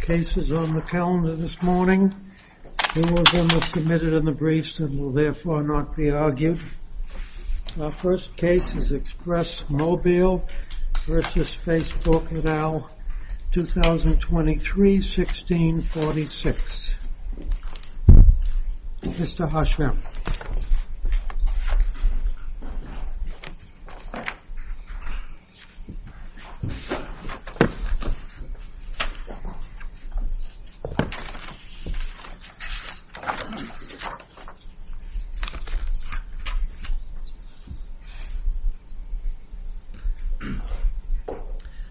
Cases on the calendar this morning. Two of them were submitted in the briefs and will therefore not be argued. Our first case is Express Mobile v. Facebook et al., 2023-1646. Mr. Harschman.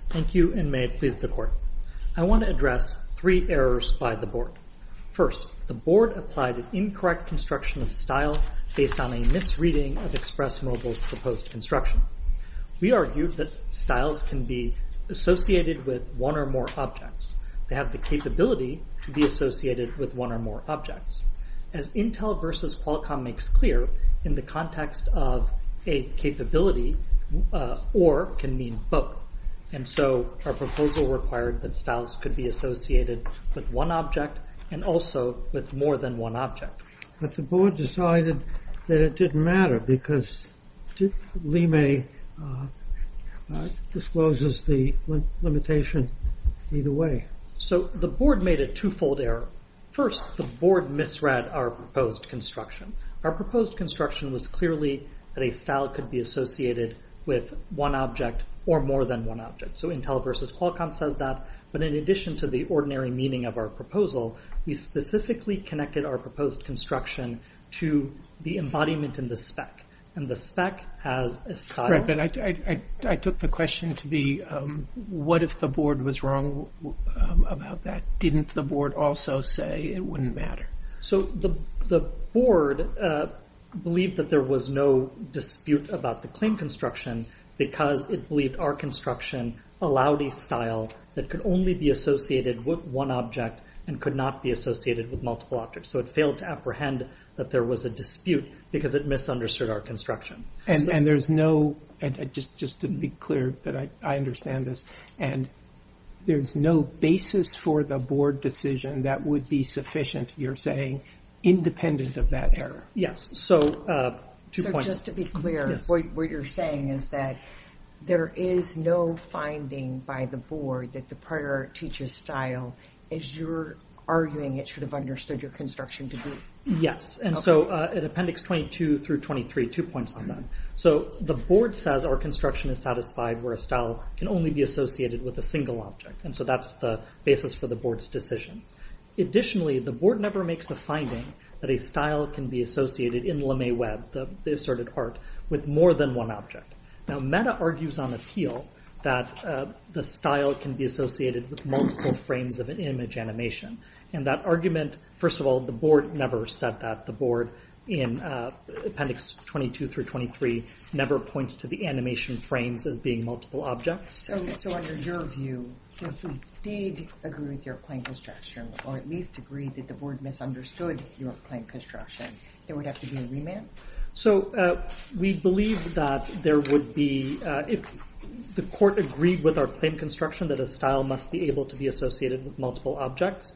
Thank you, and may it please the Court. I want to address three errors by the Board. First, the Board applied an incorrect construction of style based on a misreading of Express Mobile's proposed construction. We argued that styles can be associated with one or more objects. They have the capability to be associated with one or more objects. As Intel v. Qualcomm makes clear, in the context of a capability, or can mean both. And so, our proposal required that styles could be associated with one object and also with more than one object. But the Board decided that it didn't matter because Lime discloses the limitation either way. So, the Board made a two-fold error. First, the Board misread our proposed construction. Our proposed construction was clearly that a style could be associated with one object or more than one object. So, Intel v. Qualcomm says that, but in addition to the ordinary meaning of our proposal, we specifically connected our proposed construction to the embodiment in the spec, and the spec has a style. I took the question to be, what if the Board was wrong about that? Didn't the Board also say it wouldn't matter? So, the Board believed that there was no dispute about the claim construction because it believed our construction allowed a style that could only be associated with one object and could not be associated with multiple objects. So, it failed to apprehend that there was a dispute because it misunderstood our construction. And there's no, and just to be clear that I understand this, and there's no basis for the Board decision that would be sufficient, you're saying, independent of that error. Yes. So, two points. So, just to be clear, what you're saying is that there is no finding by the Board that the prior teacher's style, as you're arguing, it should have understood your construction to be. Yes. And so, in Appendix 22 through 23, two points. So, the Board says our construction is satisfied where a style can only be associated with a single object. And so, that's the basis for the Board's decision. Additionally, the Board never makes a finding that a style can be associated in LeMay Web, the asserted art, with more than one object. Now, Meta argues on appeal that the style can be associated with multiple frames of an image animation. And that argument, first of all, the Board never said that. The Board, in Appendix 22 through 23, never points to the animation frames as being multiple objects. So, under your view, if we did agree with your claim construction, or at least agreed that the Board misunderstood your claim construction, there would have to be a remand? So, we believe that there would be, if the Court agreed with our claim construction that a style must be able to be associated with multiple objects,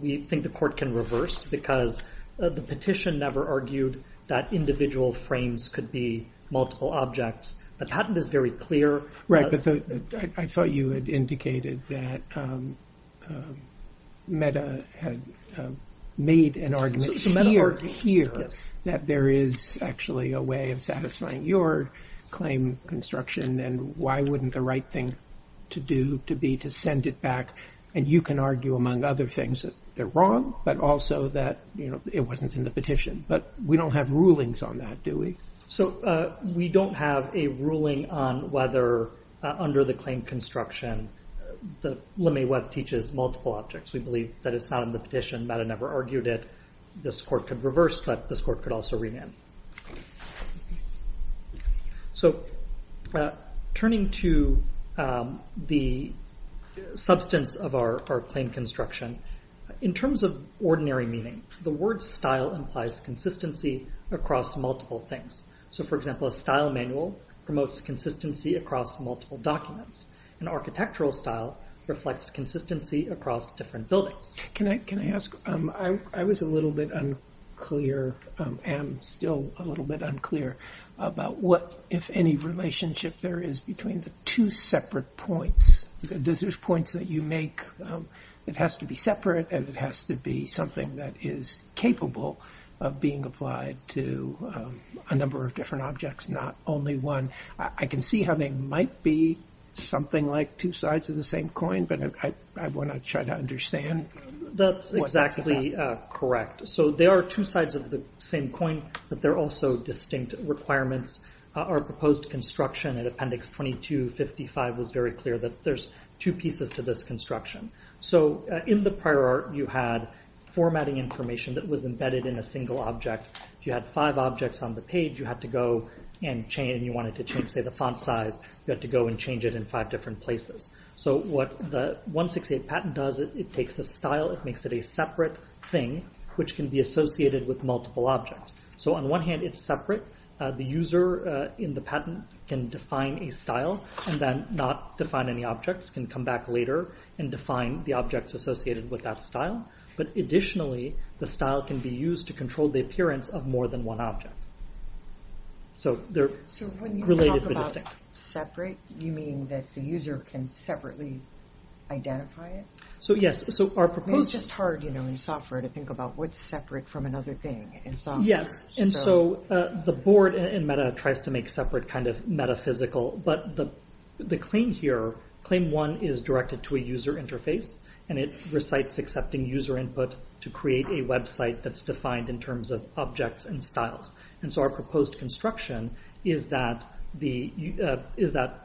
we think the Court can reverse, because the petition never argued that individual frames could be multiple objects. The patent is very clear. Right, but I thought you had indicated that Meta had made an argument here that there is actually a way of satisfying your claim construction, and why wouldn't the right thing to do to be to send it back? And you can argue, among other things, that they're wrong, but also that it wasn't in the petition. But we don't have rulings on that, do we? So, we don't have a ruling on whether, under the claim construction, the LeMay Web teaches multiple objects. We believe that it's not in the petition. Meta never argued it. This Court could reverse, but this Court could also remand. So, turning to the substance of our claim construction, in terms of ordinary meaning, the word style implies consistency across multiple things. So, for example, a style manual promotes consistency across multiple documents. An architectural style reflects consistency across different buildings. Can I ask, I was a little bit unclear, am still a little bit unclear, about what, if any, relationship there is between the two separate points. There's points that you make, it has to be separate, and it has to be something that is capable of being applied to a number of different objects, not only one. I can see how they might be something like two sides of the same coin, but I want to try to understand what that's about. That's exactly correct. So, there are two sides of the same coin, but there are also distinct requirements. Our proposed construction in Appendix 2255 was very clear that there's two pieces to this construction. So, in the prior art, you had formatting information that was embedded in a single object. If you had five objects on the page, you had to go and change, and you wanted to change, say, the font size. You had to go and change it in five different places. So, what the 168 patent does, it takes a style, it makes it a separate thing, which can be associated with multiple objects. So, on one hand, it's separate. The user in the patent can define a style, and then not define any objects, can come back later and define the objects associated with that style. But, additionally, the style can be used to control the appearance of more than one object. So, they're related but distinct. Separate? Do you mean that the user can separately identify it? So, yes. So, our proposed- It's just hard, you know, in software to think about what's separate from another thing in software. Yes. And so, the board in Meta tries to make separate kind of metaphysical, but the claim here, claim one is directed to a user interface, and it recites accepting user input to create a website that's defined in terms of objects and styles. And so, our proposed construction is that the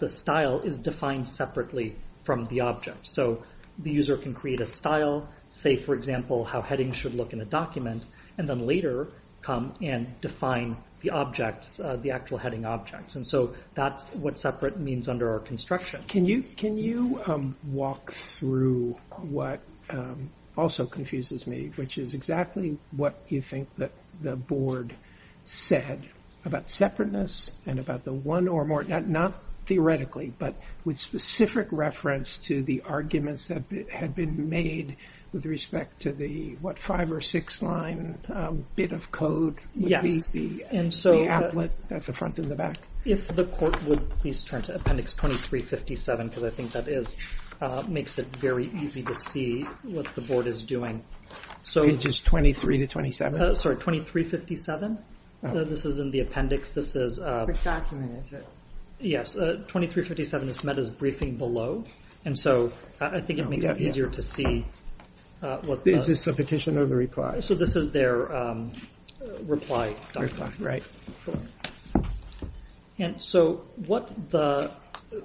style is defined separately from the object. So, the user can create a style, say, for example, how headings should look in a document, and then later come and define the objects, the actual heading objects. And so, that's what separate means under our construction. Can you walk through what also confuses me, which is exactly what you think that the board said about separateness, and about the one or more, not theoretically, but with specific reference to the arguments that had been made with respect to the, what, five or six line bit of code? Yes. The applet at the front and the back? If the court would please turn to appendix 2357, because I think that is, makes it very easy to see what the board is doing. So- Pages 23 to 27? Sorry, 2357. This is in the appendix. This is- For document, is it? Yes. 2357 is met as briefing below. And so, I think it makes it easier to see what the- Is this the petition or the reply? So, this is their reply document. And so, what the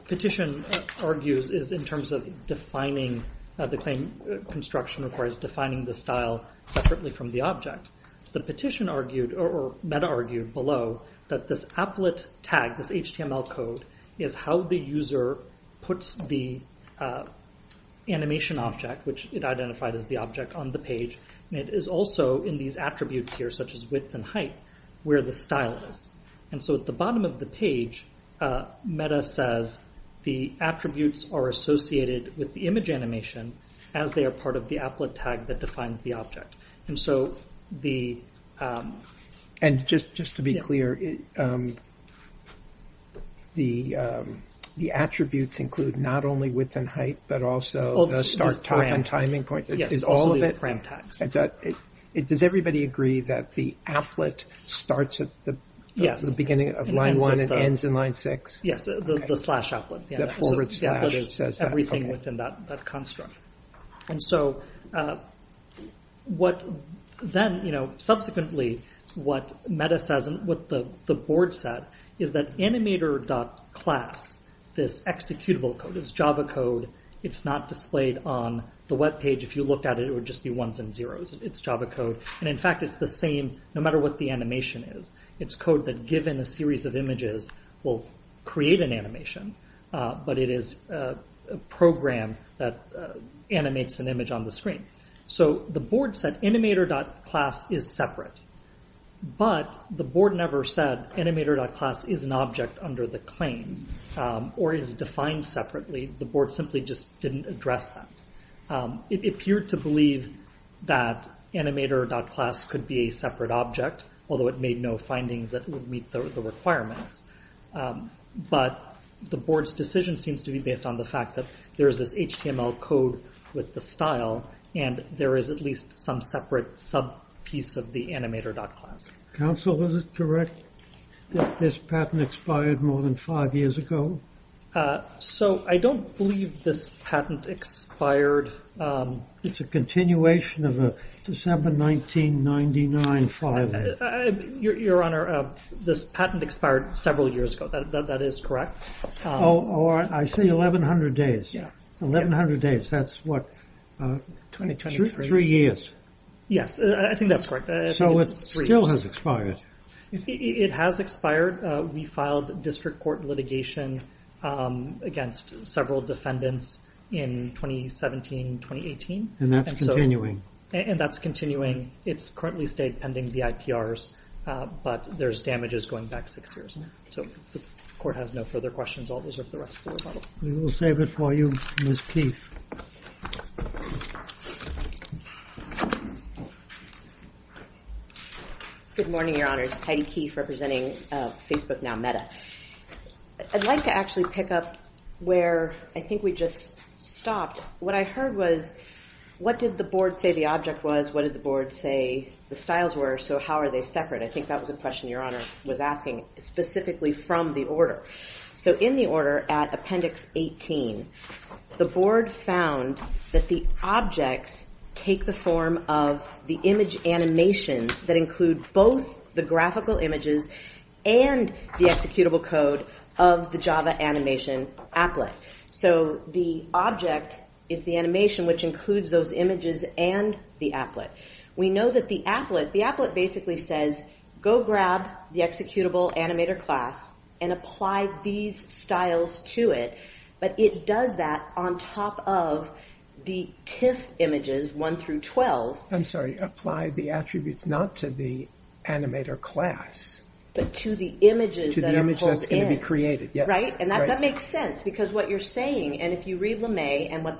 petition argues is in terms of defining, the claim construction requires defining the style separately from the object. The petition argued, or meta argued below, that this applet tag, this HTML code is how the user puts the animation object, which it identified as the object on the page, and it is also in these attributes here, such as width and height, where the style is. And so, at the bottom of the page, meta says the attributes are associated with the image animation as they are part of the applet tag that defines the object. And so, the- And just to be clear, the attributes include not only width and height, but also the start time and timing points. Yes. Is all of it- Also the frame text. Does everybody agree that the applet starts at the beginning of line one and ends in line six? Yes, the slash applet. The forward slash says that. Everything within that construct. And so, what then, you know, subsequently, what meta says, and what the board said, is that animator.class, this executable code, is Java code. It's not displayed on the web page. If you looked at it, it would just be ones and zeros. It's Java code. And in fact, it's the same no matter what the animation is. It's code that, given a series of images, will create an animation. But it is a program that animates an image on the screen. So, the board said animator.class is separate. But the board never said animator.class is an object under the claim, or is defined separately. The board simply just didn't address that. It appeared to believe that animator.class could be a separate object, although it made no findings that would meet the requirements. But the board's decision seems to be based on the fact that there's this HTML code with the style, and there is at least some separate sub-piece of the animator.class. Council, is it correct that this patent expired more than five years ago? So, I don't believe this patent expired. It's a continuation of a December 1999 filing. Your Honor, this patent expired several years ago. That is correct. Oh, I see. Eleven hundred days. Eleven hundred days. That's, what, three years. Yes, I think that's correct. So, it still has expired. It has expired. We filed district court litigation against several defendants in 2017, 2018. And that's continuing. And that's continuing. It's currently stayed pending the IPRs, but there's damages going back six years. So, the court has no further questions. I'll reserve the rest of the rebuttal. We will save it for you, Ms. Keefe. Good morning, Your Honors. Heidi Keefe, representing Facebook Now Meta. I'd like to actually pick up where I think we just stopped. What I heard was, what did the board say the object was? What did the board say the styles were? So, how are they separate? I think that was a question Your Honor was asking specifically from the order. So, in the order at Appendix 18, the board found that the objects take the form of the image animations that include both the graphical images and the executable code of the Java animation applet. So, the object is the animation, which includes those images and the applet. We know that the applet, the applet basically says, go grab the executable animator class and apply these styles to it, but it does that on top of the TIFF images, 1 through 12. I'm sorry, apply the attributes not to the animator class. But to the images that are pulled in. To the image that's going to be created, yes. Right? And that makes sense, because what you're saying, and if you read Lemay and what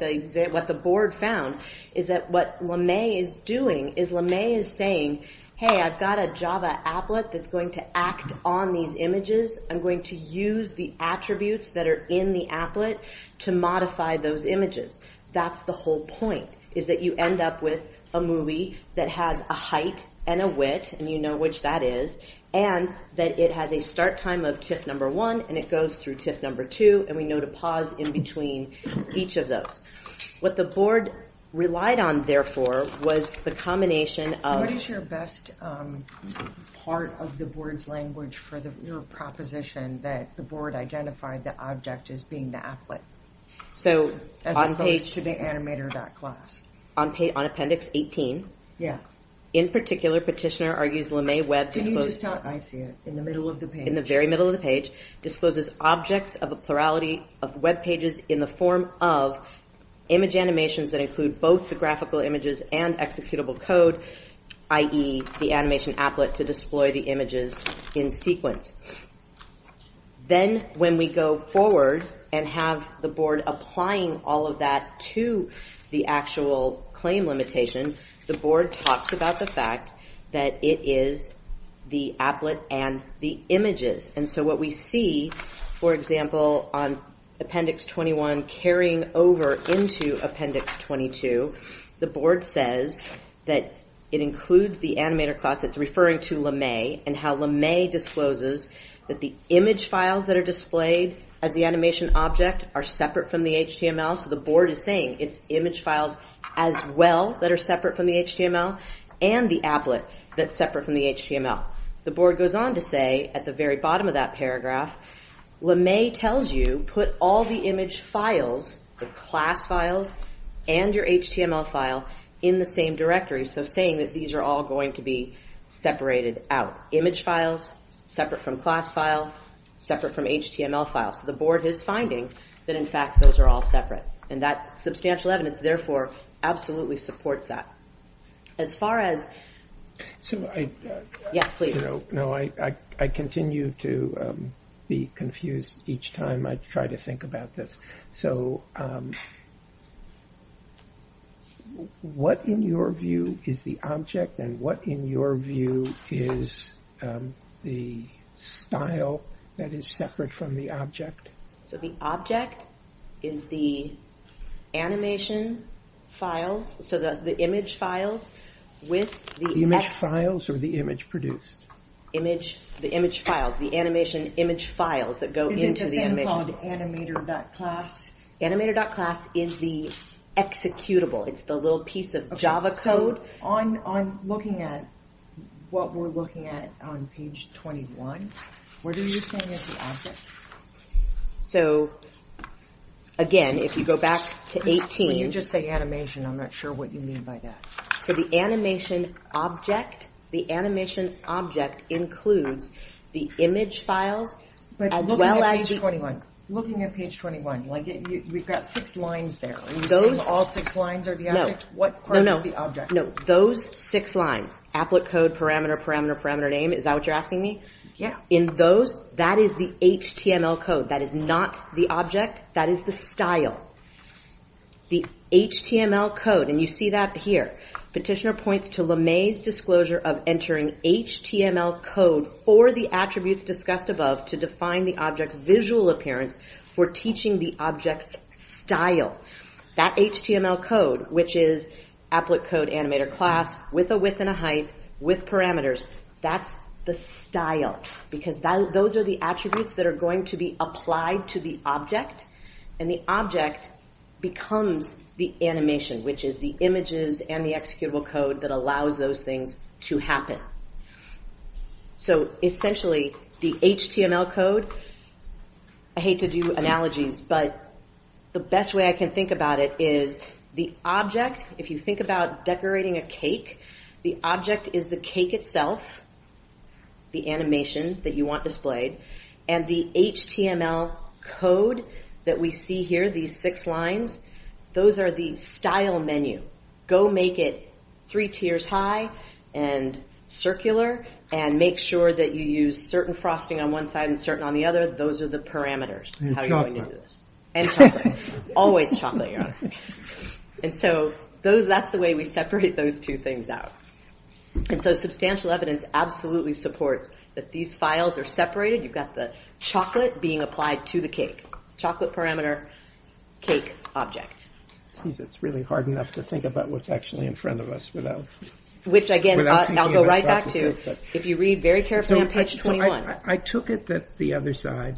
the board found, is that what Lemay is doing is Lemay is saying, hey, I've got a Java applet that's going to act on these images. I'm going to use the attributes that are in the applet to modify those images. That's the whole point, is that you end up with a movie that has a height and a width, and you know which that is, and that it has a start time of TIFF number one, and it goes through TIFF number two, and we know to pause in between each of those. What the board relied on, therefore, was the combination of. What is your best part of the board's language for your proposition that the board identified the object as being the applet? So, on page. As opposed to the animator dot class. On appendix 18. Yeah. In particular, petitioner argues Lemay Webb. Can you just tell, I see it, in the middle of the page. Discloses objects of a plurality of webpages in the form of image animations that include both the graphical images and executable code, i.e. the animation applet to display the images in sequence. Then, when we go forward and have the board applying all of that to the actual claim limitation, the board talks about the fact that it is the applet and the images. And so, what we see, for example, on appendix 21, carrying over into appendix 22, the board says that it includes the animator class. It's referring to Lemay, and how Lemay discloses that the image files that are displayed as the animation object are separate from the HTML. So, the board is saying it's image files as well that are separate from the HTML, and the applet that's separate from the HTML. The board goes on to say, at the very bottom of that paragraph, Lemay tells you put all the image files, the class files, and your HTML file in the same directory. So, saying that these are all going to be separated out. Image files, separate from class file, separate from HTML file. So, the board is finding that, in fact, those are all separate. And that substantial evidence, therefore, absolutely supports that. As far as. So, I. Yes, please. No, no, I continue to be confused each time I try to think about this. So, what, in your view, is the object? And what, in your view, is the style that is separate from the object? So, the object is the animation files. So, the image files with the. Image files or the image produced? Image, the image files, the animation image files that go into the animation. Is it then called animator.class? Animator.class is the executable. It's the little piece of Java code. So, on looking at what we're looking at on page 21, what are you saying is the object? So, again, if you go back to 18. You just say animation. I'm not sure what you mean by that. So, the animation object, the animation object includes the image files as well as. But looking at page 21, looking at page 21, like, we've got six lines there. Are you saying all six lines are the object? No, no, no. What part is the object? No, those six lines, applet code, parameter, parameter, parameter, name. Is that what you're asking me? Yeah. In those, that is the HTML code. That is not the object. That is the style. The HTML code, and you see that here. Petitioner points to LeMay's disclosure of entering HTML code for the attributes discussed above to define the object's visual appearance for teaching the object's style. That HTML code, which is applet code animator class with a width and a height with parameters, that's the style. Because those are the attributes that are going to be applied to the object. And the object becomes the animation, which is the images and the executable code that allows those things to happen. So essentially, the HTML code, I hate to do analogies, but the best way I can think about it is the object, if you think about decorating a cake, the object is the cake itself, the animation that you want displayed, and the HTML code that we see here, these six lines, those are the style menu. Go make it three tiers high and circular and make sure that you use certain frosting on one side and certain on the other. Those are the parameters. How are you going to do this? And chocolate. Always chocolate, Your Honor. And so, that's the way we separate those two things out. And so, substantial evidence absolutely supports that these files are separated. You've got the chocolate being applied to the cake. Chocolate parameter, cake object. Geez, it's really hard enough to think about what's actually in front of us without. Which again, I'll go right back to, if you read very carefully on page 21. I took it that the other side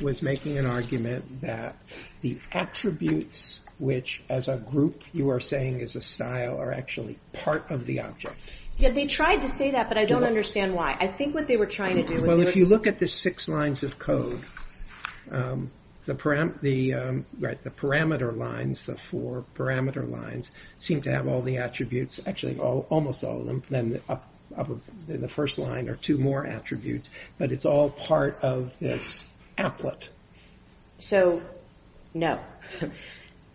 was making an argument that the attributes, which as a group you are saying is a style, are actually part of the object. Yeah, they tried to say that, but I don't understand why. I think what they were trying to do was. Well, if you look at the six lines of code, the parameter lines, the four parameter lines seem to have all the attributes. Actually, almost all of them, then the first line are two more attributes, but it's all part of this applet. So, no.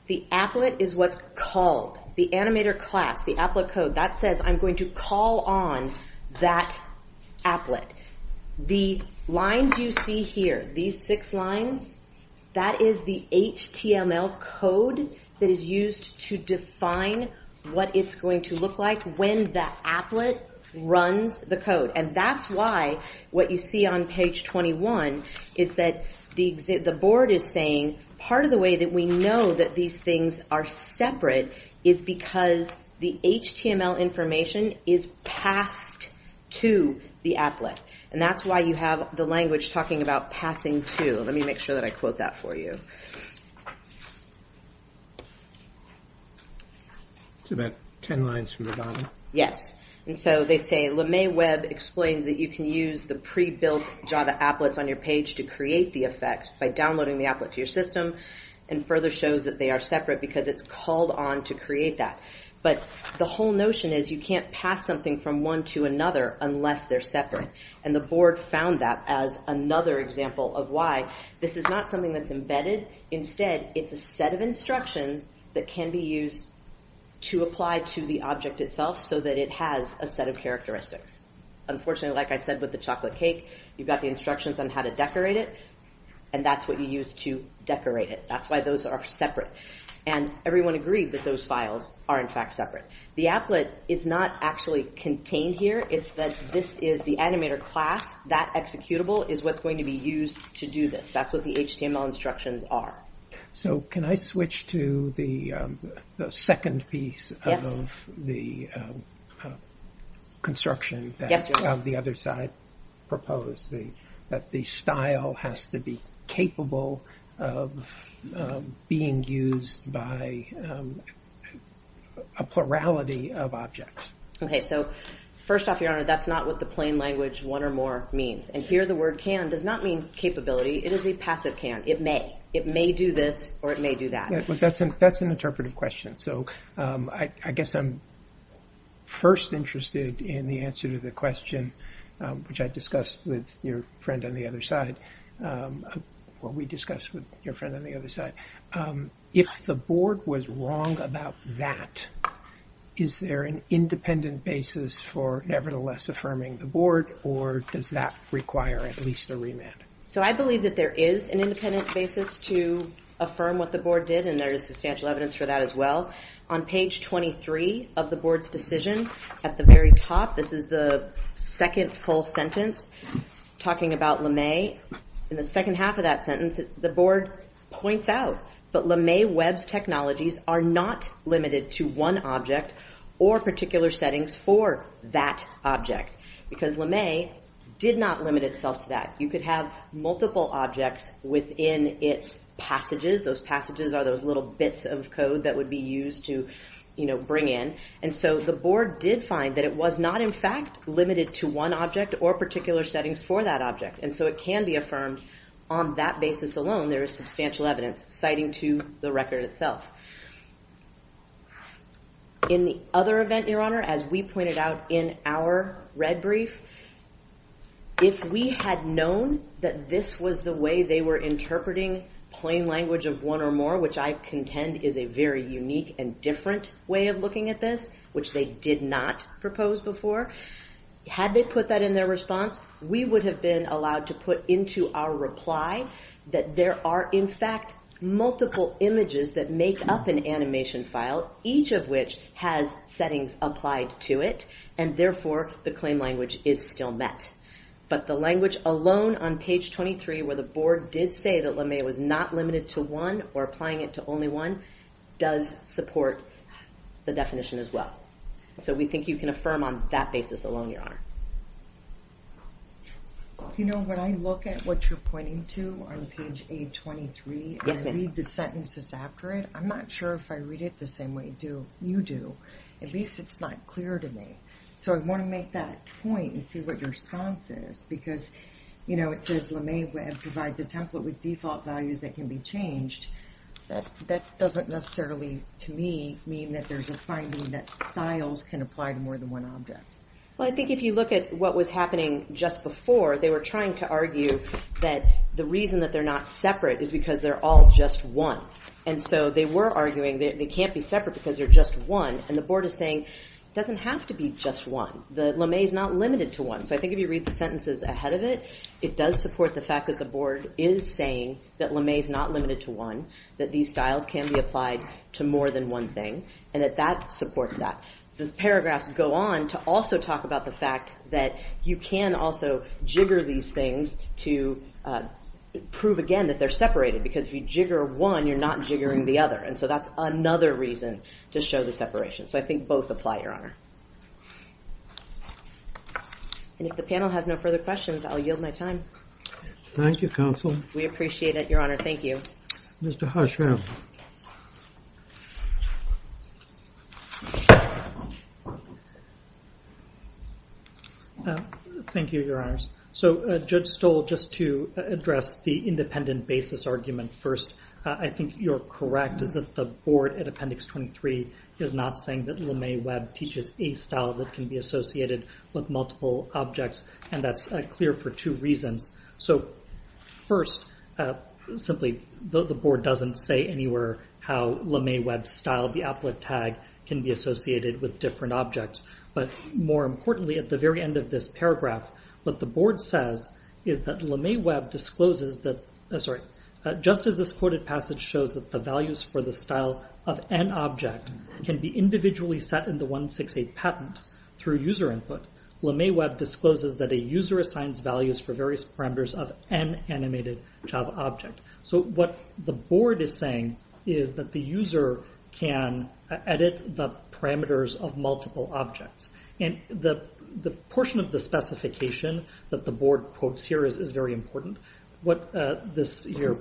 The applet is what's called, the animator class, the applet code, that says I'm going to call on that applet. The lines you see here, these six lines, that is the HTML code that is used to define what it's going to look like when the applet runs the code. And that's why what you see on page 21 is that the board is saying part of the way that we know that these things are separate is because the HTML information is passed to the applet. And that's why you have the language talking about passing to. Let me make sure that I quote that for you. It's about 10 lines from the bottom. Yes. And so, they say LeMay Web explains that you can use the pre-built Java applets on your page to create the effect by downloading the applet to your system and further shows that they are separate because it's called on to create that. But the whole notion is you can't pass something from one to another unless they're separate. And the board found that as another example of why. This is not something that's embedded. Instead, it's a set of instructions that can be used to apply to the object itself. So that it has a set of characteristics. Unfortunately, like I said with the chocolate cake, you've got the instructions on how to decorate it, and that's what you use to decorate it. That's why those are separate. And everyone agreed that those files are in fact separate. The applet is not actually contained here. It's that this is the animator class. That executable is what's going to be used to do this. That's what the HTML instructions are. So can I switch to the second piece of the construction that the other side proposed? That the style has to be capable of being used by a plurality of objects. Okay, so first off, Your Honor, that's not what the plain language one or more means. And here the word can does not mean capability. It is a passive can. It may. It may do this, or it may do that. But that's an interpretive question. So I guess I'm first interested in the answer to the question, which I discussed with your friend on the other side, what we discussed with your friend on the other side. If the board was wrong about that, is there an independent basis for nevertheless affirming the board, or does that require at least a remand? So I believe that there is an independent basis to affirm what the board did, and there is substantial evidence for that as well. On page 23 of the board's decision, at the very top, this is the second full sentence talking about LeMay, in the second half of that sentence, the board points out that LeMay web technologies are not limited to one object or particular settings for that object. Because LeMay did not limit itself to that. You could have multiple objects within its passages. Those passages are those little bits of code that would be used to, you know, bring in. And so the board did find that it was not, in fact, limited to one object or particular settings for that object. And so it can be affirmed on that basis alone, there is substantial evidence citing to the record itself. In the other event, Your Honor, as we pointed out in our red brief, if we had known that this was the way they were interpreting plain language of one or more, which I contend is a very unique and different way of looking at this, which they did not propose before, had they put that in their response, we would have been allowed to put into our reply that there are, in fact, multiple images that make up an animation file, each of which has settings applied to it. And therefore, the claim language is still met. But the language alone on page 23, where the board did say that LeMay was not limited to one or applying it to only one, does support the definition as well. So we think you can affirm on that basis alone, Your Honor. You know, when I look at what you're pointing to on page 823, I read the sentences after it. I'm not sure if I read it the same way you do. At least it's not clear to me. So I want to make that point and see what your response is, because, you know, it says LeMay provides a template with default values that can be changed. That doesn't necessarily, to me, mean that there's a finding that styles can apply to more than one object. Well, I think if you look at what was happening just before, they were trying to argue that the reason that they're not separate is because they're all just one. And so they were arguing that they can't be separate because they're just one. And the board is saying it doesn't have to be just one. The LeMay is not limited to one. So I think if you read the sentences ahead of it, it does support the fact that the board is saying that LeMay is not limited to one, that these styles can be applied to more than one thing, and that that supports that. Those paragraphs go on to also talk about the fact that you can also jigger these things to prove again that they're separated. Because if you jigger one, you're not jiggering the other. And so that's another reason to show the separation. So I think both apply, Your Honor. And if the panel has no further questions, I'll yield my time. Thank you, Counsel. We appreciate it, Your Honor. Thank you. Mr. Harsha. Thank you, Your Honors. So Judge Stoll, just to address the independent basis argument first, I think you're correct that the board at Appendix 23 is not saying that LeMay Webb teaches a style that can be associated with multiple objects. And that's clear for two reasons. So first, simply, the board doesn't say anywhere how LeMay Webb's style, the applet tag, can be associated with different objects. But more importantly, at the very end of this paragraph, what the board says is that LeMay Webb discloses that, sorry, just as this quoted passage shows that the values for the style of an object can be individually set in the 168 patent through user input, LeMay Webb discloses that a user assigns values for various parameters of an animated Java object. So what the board is saying is that the user can edit the parameters of multiple objects. And the portion of the specification that the board quotes here is very important. What you're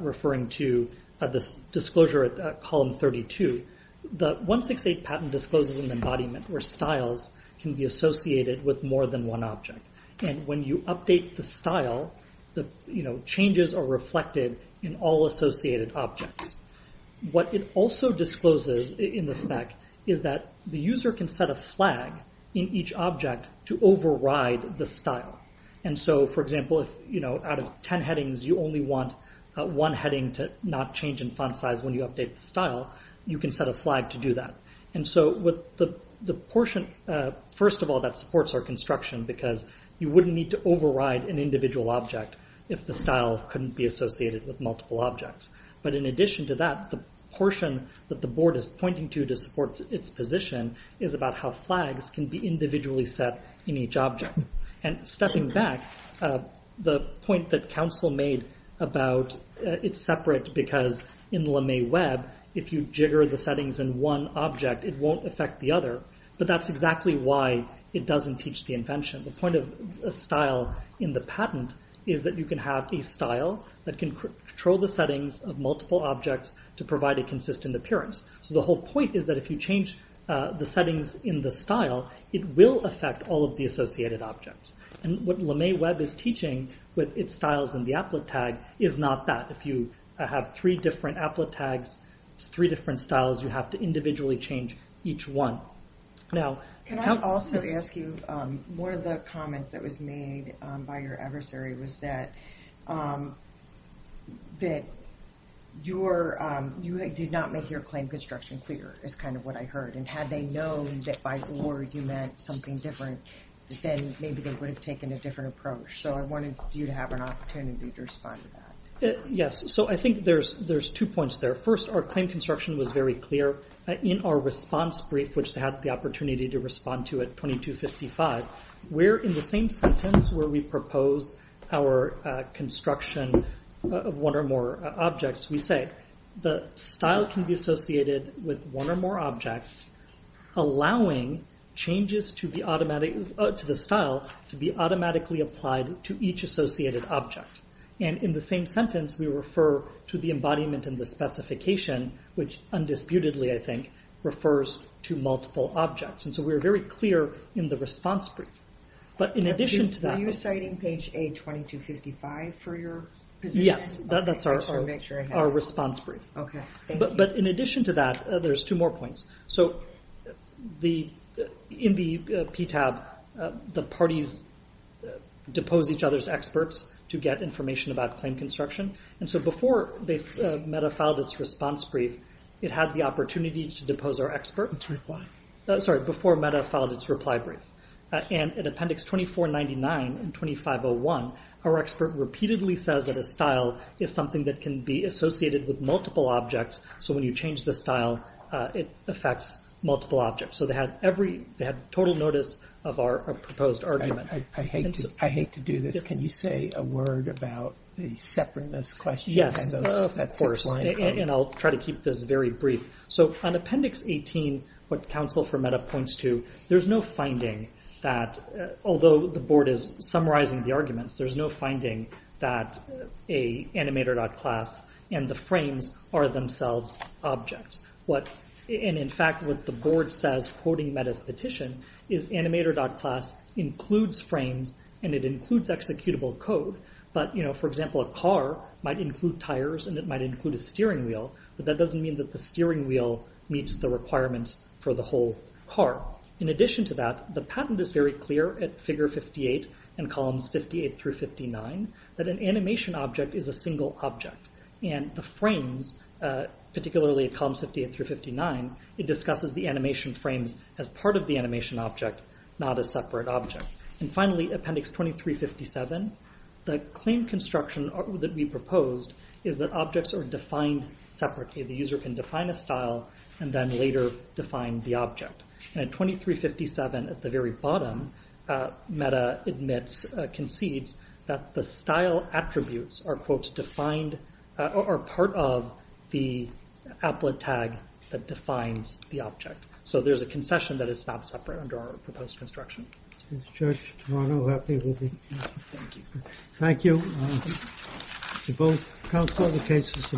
referring to, this disclosure at Column 32, the 168 patent discloses an embodiment where styles can be associated with more than one object. And when you update the style, the changes are reflected in all associated objects. What it also discloses in the spec is that the user can set a flag in each object to override the style. And so, for example, if, you know, out of 10 headings, you only want one heading to not change in font size when you update the style, you can set a flag to do that. And so with the portion, first of all, that supports our construction because you wouldn't need to override an individual object if the style couldn't be associated with multiple objects. But in addition to that, the portion that the board is pointing to to support its position is about how flags can be individually set in each object. And stepping back, the point that counsel made about it's separate because in LeMay Web, if you jigger the settings in one object, it won't affect the other. But that's exactly why it doesn't teach the invention. The point of style in the patent is that you can have a style that can control the settings of multiple objects to provide a consistent appearance. So the whole point is that if you change the settings in the style, it will affect all of the associated objects. And what LeMay Web is teaching with its styles in the applet tag is not that. If you have three different applet tags, three different styles, you have to individually change each one. Now, countless... that you did not make your claim construction clear is kind of what I heard. And had they known that by or you meant something different, then maybe they would have taken a different approach. So I wanted you to have an opportunity to respond to that. Yes. So I think there's two points there. First, our claim construction was very clear in our response brief, which they had the opportunity to respond to at 2255. Where in the same sentence where we propose our construction of one or more objects, we say the style can be associated with one or more objects, allowing changes to the style to be automatically applied to each associated object. And in the same sentence, we refer to the embodiment and the specification, which undisputedly, I think, refers to multiple objects. And so we're very clear in the response brief. But in addition to that... Are you citing page A-2255 for your position? Yes. That's our response brief. OK. Thank you. But in addition to that, there's two more points. So in the PTAB, the parties depose each other's experts to get information about claim construction. And so before they metafiled its response brief, it had the opportunity to depose our experts. Sorry, before metafiled its reply brief. And in Appendix 2499 and 2501, our expert repeatedly says that a style is something that can be associated with multiple objects. So when you change the style, it affects multiple objects. So they had total notice of our proposed argument. I hate to do this. Can you say a word about the separateness question? Yes. And I'll try to keep this very brief. So on Appendix 18, what Council for Meta points to, there's no finding that, although the board is summarizing the arguments, there's no finding that a Animator.class and the frames are themselves objects. And in fact, what the board says, quoting Meta's petition, is Animator.class includes frames and it includes executable code. But, you know, for example, a car might include tires and it might include a steering wheel. But that doesn't mean that the steering wheel meets the requirements for the whole car. In addition to that, the patent is very clear at Figure 58 and Columns 58 through 59 that an animation object is a single object. And the frames, particularly at Columns 58 through 59, it discusses the animation frames as part of the animation object, not a separate object. And finally, Appendix 2357, the claim construction that we proposed is that objects are defined separately. The user can define a style and then later define the object. And at 2357, at the very bottom, Meta admits, concedes that the style attributes are, quote, defined, are part of the applet tag that defines the object. So there's a concession that it's not separate under our proposed construction. Judge Toronto, happy to be here. Thank you to both counselors for the case you submitted.